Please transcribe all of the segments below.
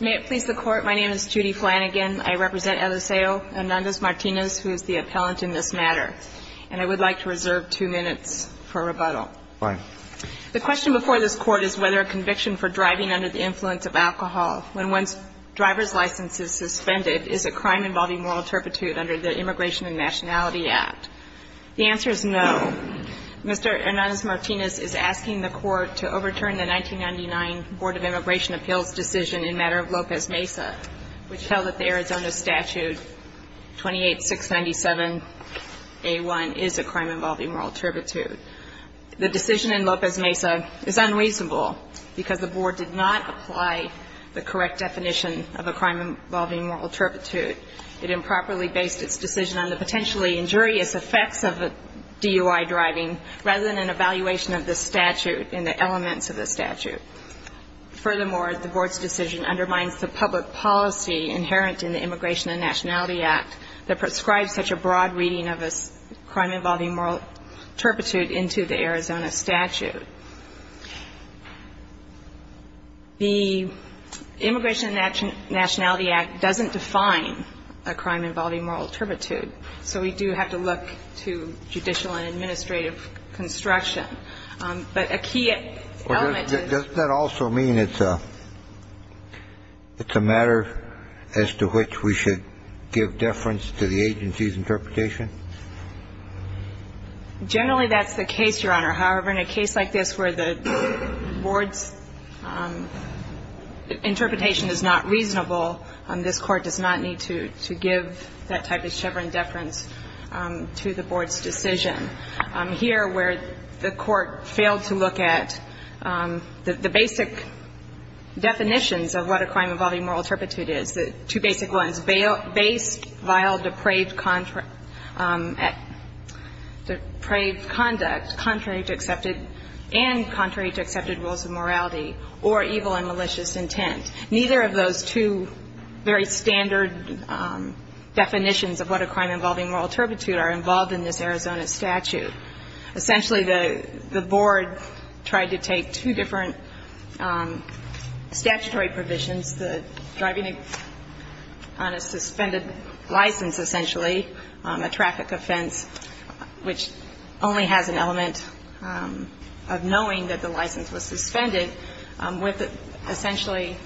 May it please the Court, my name is Judy Flanagan. I represent Eliseo Hernández-Martinez, who is the appellant in this matter, and I would like to reserve two minutes for rebuttal. Fine. The question before this Court is whether a conviction for driving under the influence of alcohol when one's driver's license is suspended is a crime involving moral turpitude under the Immigration and Nationality Act. The answer is no. Mr. Hernández-Martinez is asking the Court to overturn the 1999 Board of Immigration Appeals decision in matter of López Mesa, which held that the Arizona statute 28-697-A1 is a crime involving moral turpitude. The decision in López Mesa is unreasonable because the Board did not apply the correct definition of a crime involving moral turpitude. It improperly based its decision on the potentially injurious effects of DUI driving rather than an evaluation of the statute and the elements of the statute. Furthermore, the Board's decision undermines the public policy inherent in the Immigration and Nationality Act that prescribes such a broad reading of a crime involving moral turpitude into the Arizona statute. The Immigration and Nationality Act doesn't define a crime involving moral turpitude. So we do have to look to judicial and administrative construction. But a key element to this ---- Does that also mean it's a matter as to which we should give deference to the agency's interpretation? Generally, that's the case, Your Honor. However, in a case like this where the Board's interpretation is not reasonable, this Court does not need to give that type of chevron deference to the Board's decision. Here, where the Court failed to look at the basic definitions of what a crime involving moral turpitude is, the two basic ones, based, vile, depraved conduct, contrary to accepted and contrary to accepted rules of morality, or evil and malicious intent. Neither of those two very standard definitions of what a crime involving moral turpitude are involved in this Arizona statute. Essentially, the Board tried to take two different statutory provisions, the driving on a suspended license, essentially, a traffic offense which only has an element of knowing that the license was suspended, with essentially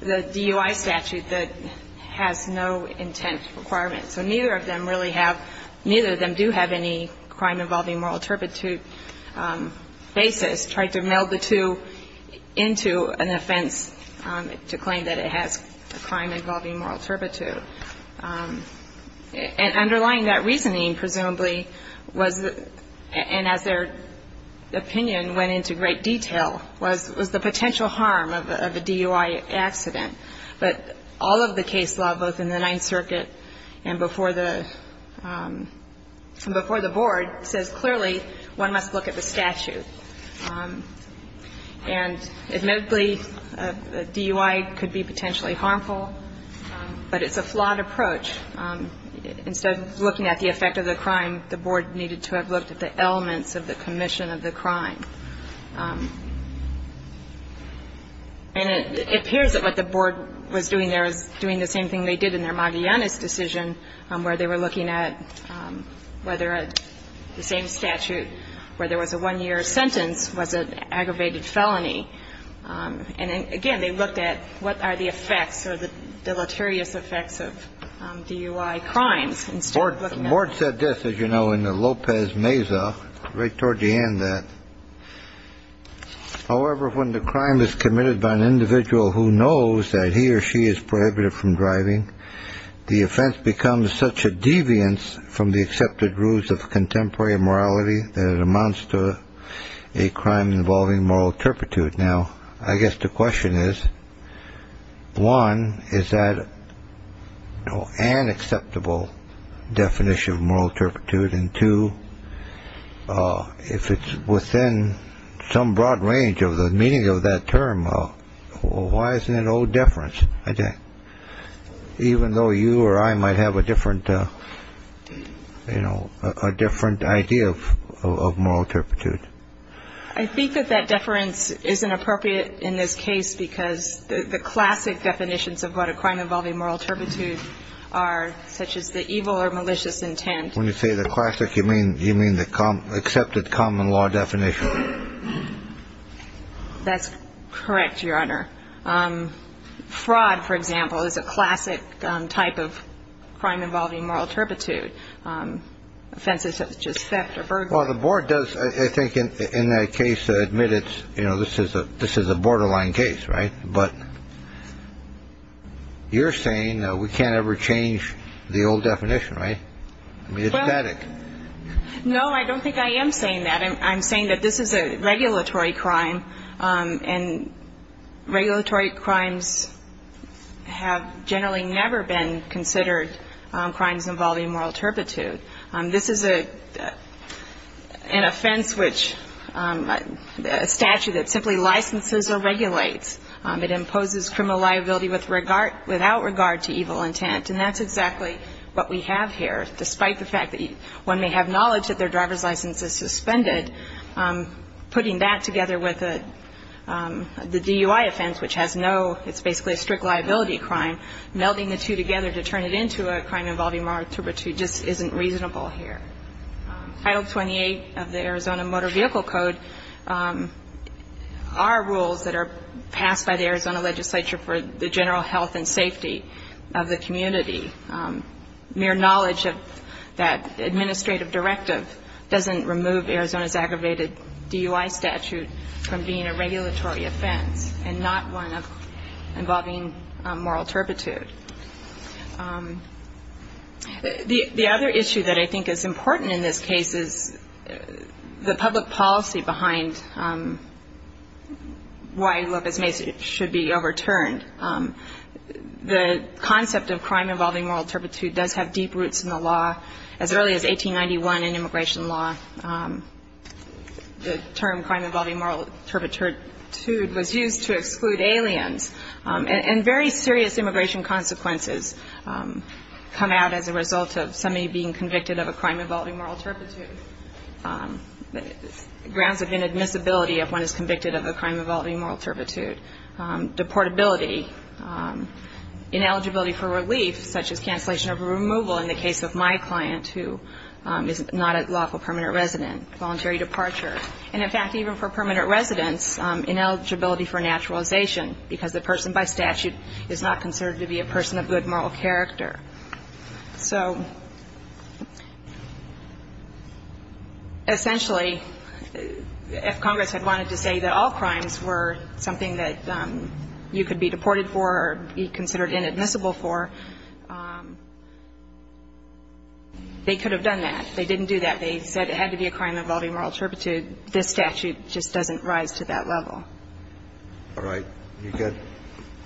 the DUI statute that has no intent requirement. So neither of them really have ---- neither of them do have any crime involving moral turpitude basis. Tried to meld the two into an offense to claim that it has a crime involving moral turpitude. And underlying that reasoning, presumably, was the ---- and as their opinion went into great detail, was the potential harm of a DUI accident. But all of the case law, both in the Ninth Circuit and before the ---- and before the Board, says clearly one must look at the statute. And admittedly, a DUI could be potentially harmful, but it's a flawed approach. Instead of looking at the effect of the crime, the Board needed to have looked at the elements of the commission of the crime. And it appears that what the Board was doing there was doing the same thing they did in their Magallanes decision, where they were looking at whether the same statute where there was a one-year sentence was an aggravated felony. And again, they looked at what are the effects or the deleterious effects of DUI crimes instead of looking at ---- Board said this, as you know, in the Lopez-Mesa, right toward the end of that. However, when the crime is committed by an individual who knows that he or she is prohibited from driving, the offense becomes such a deviance from the accepted rules of contemporary morality that it amounts to a crime involving moral turpitude. Now, I guess the question is, one, is that an acceptable definition of moral turpitude? And two, if it's within some broad range of the meaning of that term, why isn't it a deference, even though you or I might have a different, you know, a different idea of moral turpitude? I think that that deference isn't appropriate in this case because the classic definitions of what a crime involving moral turpitude are, such as the evil or malicious intent. When you say the classic, you mean the accepted common law definition? That's correct, Your Honor. Fraud, for example, is a classic type of crime involving moral turpitude. Offenses such as theft or burglary. Well, the Board does, I think, in that case, admit it's, you know, this is a borderline case, right? But you're saying we can't ever change the old definition, right? I mean, it's static. No, I don't think I am saying that. I'm saying that this is a regulatory crime, and regulatory crimes have generally never been considered crimes involving moral turpitude. This is an offense which is a statute that simply licenses or regulates. It imposes criminal liability without regard to evil intent, and that's exactly what we have here. Despite the fact that one may have knowledge that their driver's license is suspended, putting that together with the DUI offense, which has no, it's basically a strict liability crime, melding the two together to turn it into a crime involving moral turpitude just isn't reasonable here. Title 28 of the Arizona Motor Vehicle Code are rules that are passed by the Arizona legislature for the general health and safety of the community. Mere knowledge of that administrative directive doesn't remove Arizona's aggravated DUI statute from being a regulatory offense, and not one involving moral turpitude. The other issue that I think is important in this case is the public policy behind why Lopez Mesa should be overturned. The concept of crime involving moral turpitude does have deep roots in the law. As early as 1891 in immigration law, the term crime involving moral turpitude was used to exclude people who were not as a result of somebody being convicted of a crime involving moral turpitude. Grounds of inadmissibility if one is convicted of a crime involving moral turpitude. Deportability, ineligibility for relief, such as cancellation of a removal in the case of my client, who is not a lawful permanent resident, voluntary departure. And in fact, even for permanent residents, ineligibility for naturalization, because the person by statute is not considered to be a person of good moral character. So essentially, if Congress had wanted to say that all crimes were something that you could be deported for or be considered inadmissible for, they could have done that. They didn't do that. They said it had to be a crime involving moral turpitude. This statute just doesn't rise to that level. All right. You've got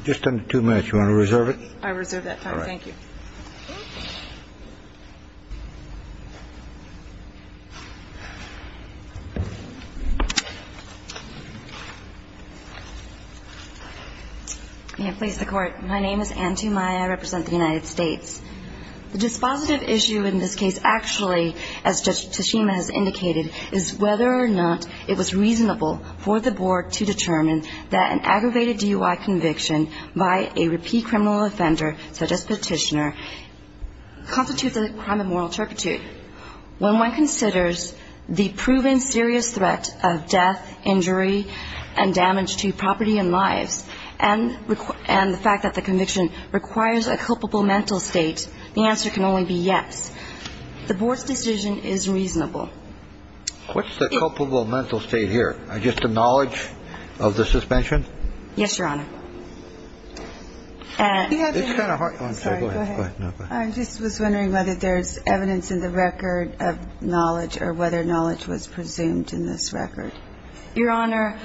just under two minutes. You want to reserve it? I reserve that time. Thank you. May it please the Court. My name is Anne Tumai. I represent the United States. The dispositive issue in this case actually, as Judge Tashima has indicated, is whether or not it was reasonable for the Board to determine that an aggravated DUI conviction by a repeat criminal offender, such as petitioner, constitutes a crime of moral turpitude. When one considers the proven serious threat of death, injury, and damage to property and lives, and the fact that the conviction requires a culpable mental state, the answer can only be yes. The Board's decision is reasonable. What's the culpable mental state here? Just the knowledge of the suspension? Yes, Your Honor. I just was wondering whether there's evidence in the record of knowledge or whether knowledge was presumed in this record. Your Honor,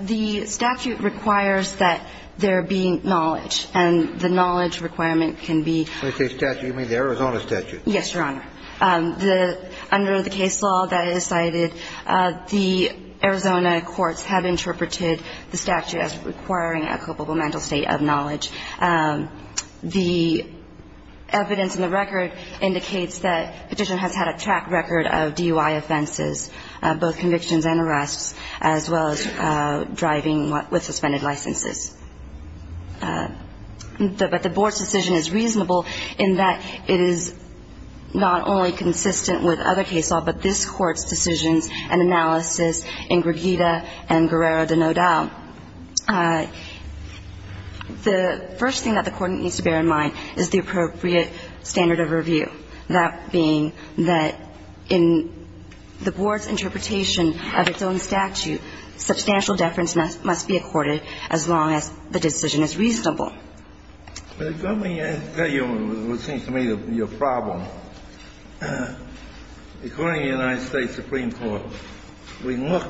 the statute requires that there be knowledge, and the knowledge requirement can be stated in the Arizona statute. Yes, Your Honor. Under the case law that is cited, the Arizona courts have interpreted the statute as requiring a culpable mental state of knowledge. The evidence in the record indicates that the petitioner has had a track record of DUI offenses, both convictions and arrests, as well as driving with suspended licenses. But the Board's decision is reasonable in that it is not only consistent with other case law, but this Court's decisions and analysis in Gregita and Guerrero de No Dao. The first thing that the Court needs to bear in mind is the appropriate standard of review, that being that in the Board's interpretation of its own statute, substantial deference must be accorded as long as the decision is reasonable. Let me tell you what seems to me to be your problem. According to the United States Supreme Court, we look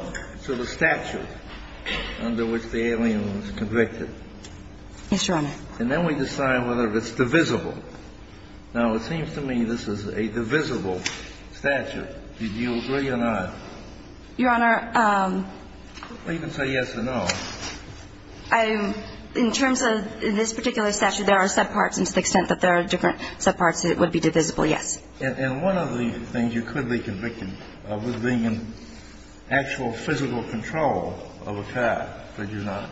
to the statute under which the alien was convicted. Yes, Your Honor. And then we decide whether it's divisible. Now, it seems to me this is a divisible statute. Do you agree or not? Well, you can say yes or no. In terms of this particular statute, there are subparts, and to the extent that there are different subparts, it would be divisible, yes. And one of the things you could be convicted of was being in actual physical control of a car, could you not?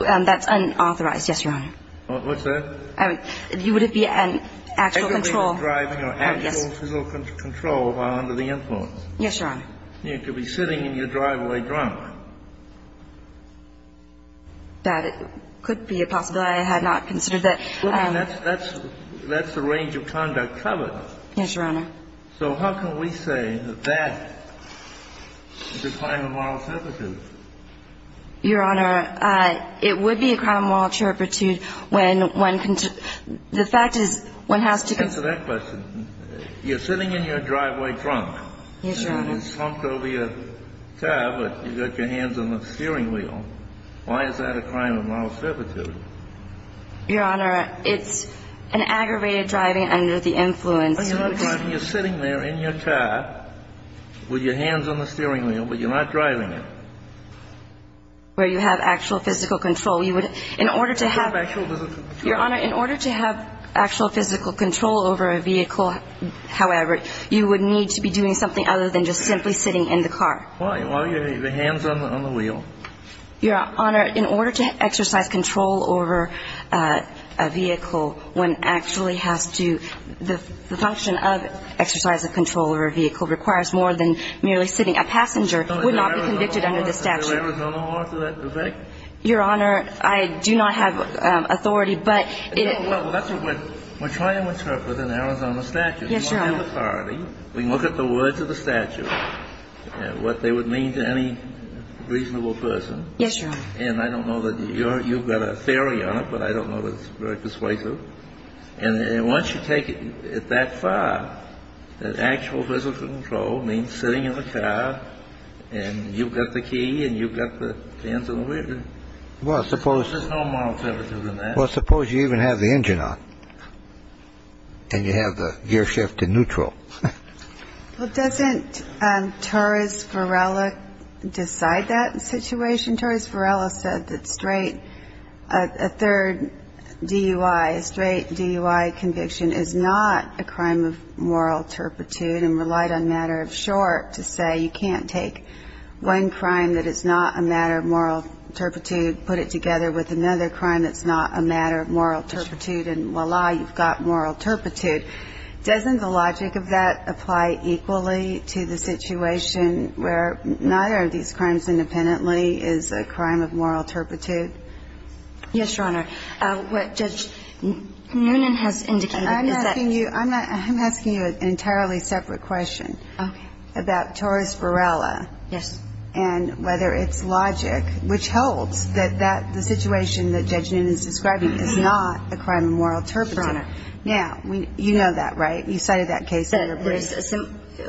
That's unauthorized, yes, Your Honor. What's that? You would be in actual control. Driving or actual physical control while under the influence. Yes, Your Honor. You could be sitting in your driveway drunk. That could be a possibility. I had not considered that. That's the range of conduct covered. Yes, Your Honor. So how can we say that that is a crime of moral turpitude? Your Honor, it would be a crime of moral turpitude when one can – the fact is one has to – Answer that question. You're sitting in your driveway drunk. Yes, Your Honor. And you're slumped over your car, but you've got your hands on the steering wheel. Why is that a crime of moral turpitude? Your Honor, it's an aggravated driving under the influence. You're not driving. You're sitting there in your car with your hands on the steering wheel, but you're not driving it. Where you have actual physical control. You would – in order to have – You have actual physical control. over a vehicle, however, you would need to be doing something other than just simply sitting in the car. Why? Why are your hands on the wheel? Your Honor, in order to exercise control over a vehicle, one actually has to – the function of exercise of control over a vehicle requires more than merely sitting. A passenger would not be convicted under this statute. Is there an Arizona law to that effect? Your Honor, I do not have authority, but – We're trying to interpret an Arizona statute. Yes, Your Honor. We have authority. We can look at the words of the statute and what they would mean to any reasonable person. Yes, Your Honor. And I don't know that – you've got a theory on it, but I don't know that it's very persuasive. And once you take it that far, that actual physical control means sitting in the car, and you've got the key, and you've got the hands on the wheel. Well, suppose – There's no moral turpitude in that. Well, suppose you even have the engine on, and you have the gear shift in neutral. Well, doesn't Torres Varela decide that situation? Torres Varela said that straight – a third DUI, a straight DUI conviction is not a crime of moral turpitude, and relied on matter of short to say you can't take one crime that is not a matter of moral turpitude, put it together with another crime that's not a matter of moral turpitude, and voila, you've got moral turpitude. Doesn't the logic of that apply equally to the situation where neither of these crimes independently is a crime of moral turpitude? Yes, Your Honor. What Judge Noonan has indicated is that – I'm asking you – I'm asking you an entirely separate question. Okay. About Torres Varela. Yes. And whether it's logic which holds that the situation that Judge Noonan is describing is not a crime of moral turpitude. Your Honor. Now, you know that, right? You cited that case in your brief.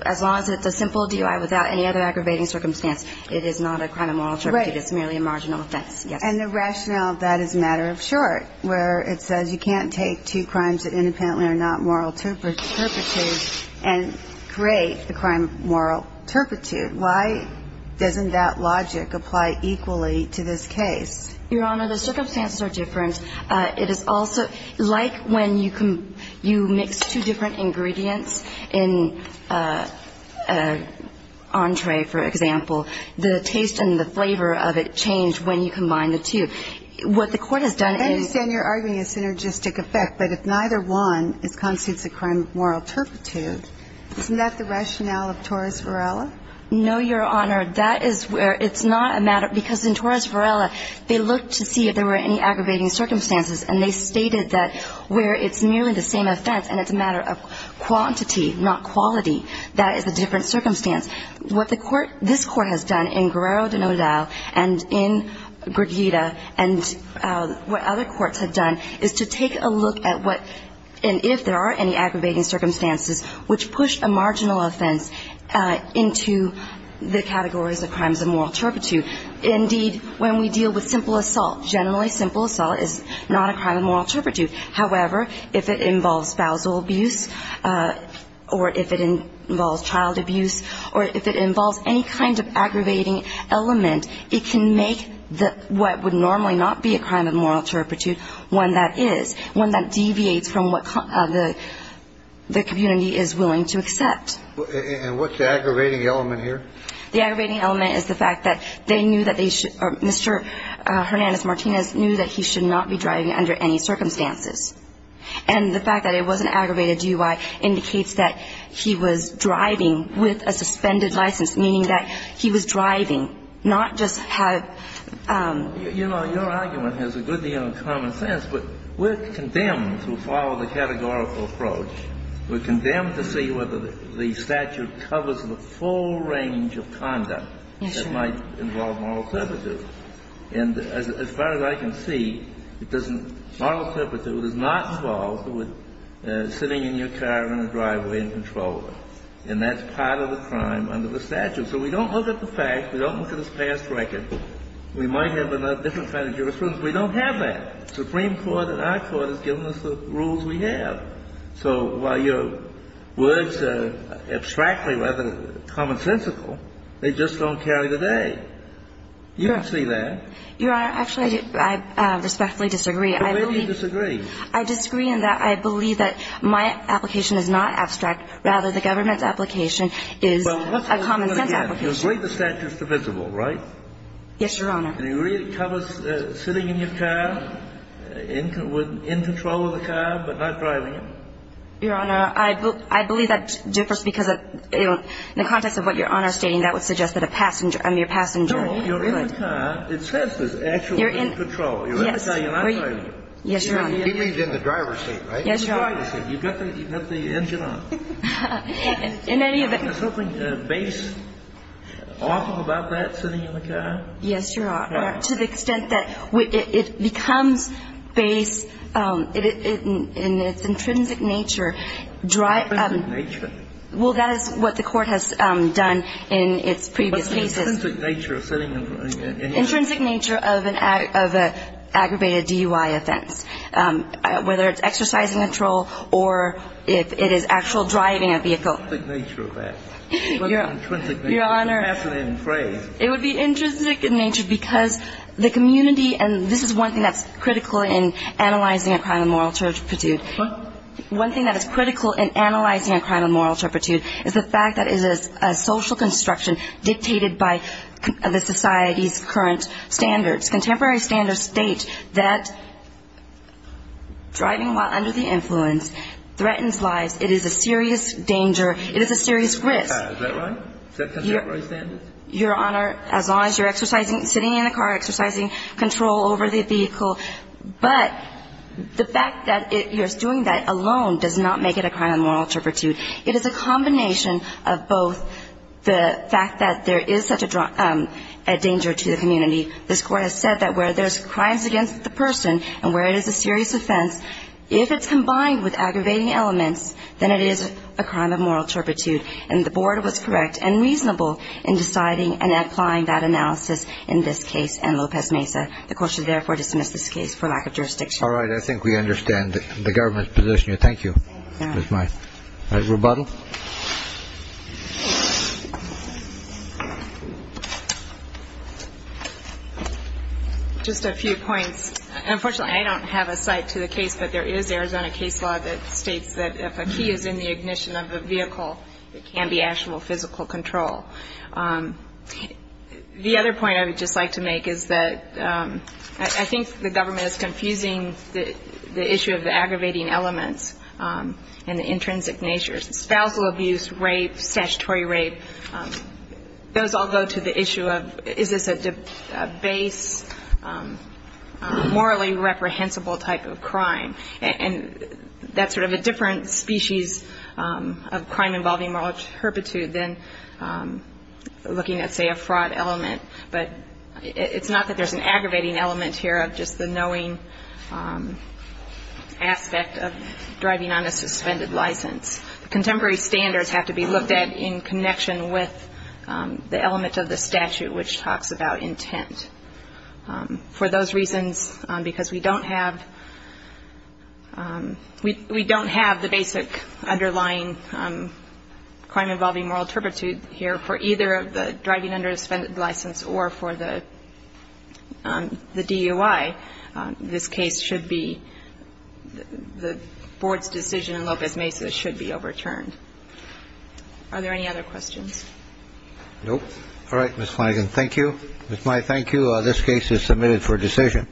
As long as it's a simple DUI without any other aggravating circumstance, it is not a crime of moral turpitude. Right. It's merely a marginal offense, yes. And the rationale of that is matter of short, where it says you can't take two crimes that independently are not moral turpitude and create a crime of moral turpitude. Why doesn't that logic apply equally to this case? Your Honor, the circumstances are different. It is also – like when you mix two different ingredients in an entree, for example, the taste and the flavor of it change when you combine the two. What the Court has done is – No, Your Honor. That is where it's not a matter – because in Torres Varela, they looked to see if there were any aggravating circumstances and they stated that where it's merely the same offense and it's a matter of quantity, not quality, that is a different circumstance. What the Court – this Court has done in Guerrero de Nodal and in Gurguita and what other courts have done is to take a look at what – and if there are any aggravating circumstances which push a marginal offense into the categories of crimes of moral turpitude. Indeed, when we deal with simple assault, generally simple assault is not a crime of moral turpitude. However, if it involves spousal abuse or if it involves child abuse or if it involves any kind of aggravating element, it can make what would normally not be a crime of moral turpitude one that is, one that deviates from what the community is willing to accept. And what's the aggravating element here? The aggravating element is the fact that they knew that they should – Mr. Hernandez-Martinez knew that he should not be driving under any circumstances. And the fact that it was an aggravated DUI indicates that he was driving with a suspended license, meaning that he was driving, not just have – Well, you know, your argument has a good deal of common sense, but we're condemned to follow the categorical approach. We're condemned to see whether the statute covers the full range of conduct that might involve moral turpitude. And as far as I can see, it doesn't – moral turpitude is not involved with sitting in your car in a driveway and controlling. And that's part of the crime under the statute. So we don't look at the facts. We don't look at his past record. We might have a different kind of jurisprudence. We don't have that. Supreme Court and our Court has given us the rules we have. So while your words are abstractly rather than commonsensical, they just don't carry the day. You don't see that. Your Honor, actually, I respectfully disagree. But where do you disagree? I disagree in that I believe that my application is not abstract, rather the government's application is a common sense application. You agree the statute is divisible, right? Yes, Your Honor. And you agree it covers sitting in your car, in control of the car, but not driving it? Your Honor, I believe that differs because in the context of what Your Honor is stating, that would suggest that a passenger – I mean, a passenger would. No, you're in the car. It says there's actually no control. You're in the car. You're not driving. Yes, Your Honor. He means in the driver's seat, right? Yes, Your Honor. In the driver's seat. You've got the engine on. In any event – Is something based off of that, sitting in the car? Yes, Your Honor. To the extent that it becomes based in its intrinsic nature – Intrinsic nature? Well, that is what the court has done in its previous cases. What's the intrinsic nature of sitting in the car? Intrinsic nature of an aggravated DUI offense. Whether it's exercising control or if it is actual driving a vehicle. What's the intrinsic nature of that? Your Honor, it would be intrinsic in nature because the community – and this is one thing that's critical in analyzing a crime of moral turpitude. What? One thing that is critical in analyzing a crime of moral turpitude is the fact that it is a social construction dictated by the society's current standards. Contemporary standards state that driving while under the influence threatens lives. It is a serious danger. It is a serious risk. Is that right? Is that contemporary standards? Your Honor, as long as you're sitting in the car exercising control over the vehicle. But the fact that you're doing that alone does not make it a crime of moral turpitude. It is a combination of both the fact that there is such a danger to the community. This Court has said that where there's crimes against the person and where it is a serious offense, if it's combined with aggravating elements, then it is a crime of moral turpitude. And the Board was correct and reasonable in deciding and applying that analysis in this case and Lopez Mesa. The Court should therefore dismiss this case for lack of jurisdiction. All right. I think we understand the Government's position here. Thank you. That's my rebuttal. Just a few points. Unfortunately, I don't have a site to the case, but there is Arizona case law that states that if a key is in the ignition of a vehicle, it can be actionable physical control. The other point I would just like to make is that I think the Government is confusing the issue of the aggravating elements and the intrinsic natures. Spousal abuse, rape, statutory rape, those all go to the issue of is this a base, morally reprehensible type of crime. And that's sort of a different species of crime involving moral turpitude than looking at, say, a fraud element. But it's not that there's an aggravating element here of just the knowing aspect of driving on a suspended license. Contemporary standards have to be looked at in connection with the element of the statute, which talks about intent. For those reasons, because we don't have the basic underlying crime involving moral turpitude here for either the driving under a suspended license or for the DUI, this case should be, the Board's decision in Lopez Mesa should be overturned. Are there any other questions? Nope. All right, Ms. Flanagan, thank you. Ms. Mai, thank you. This case is submitted for decision.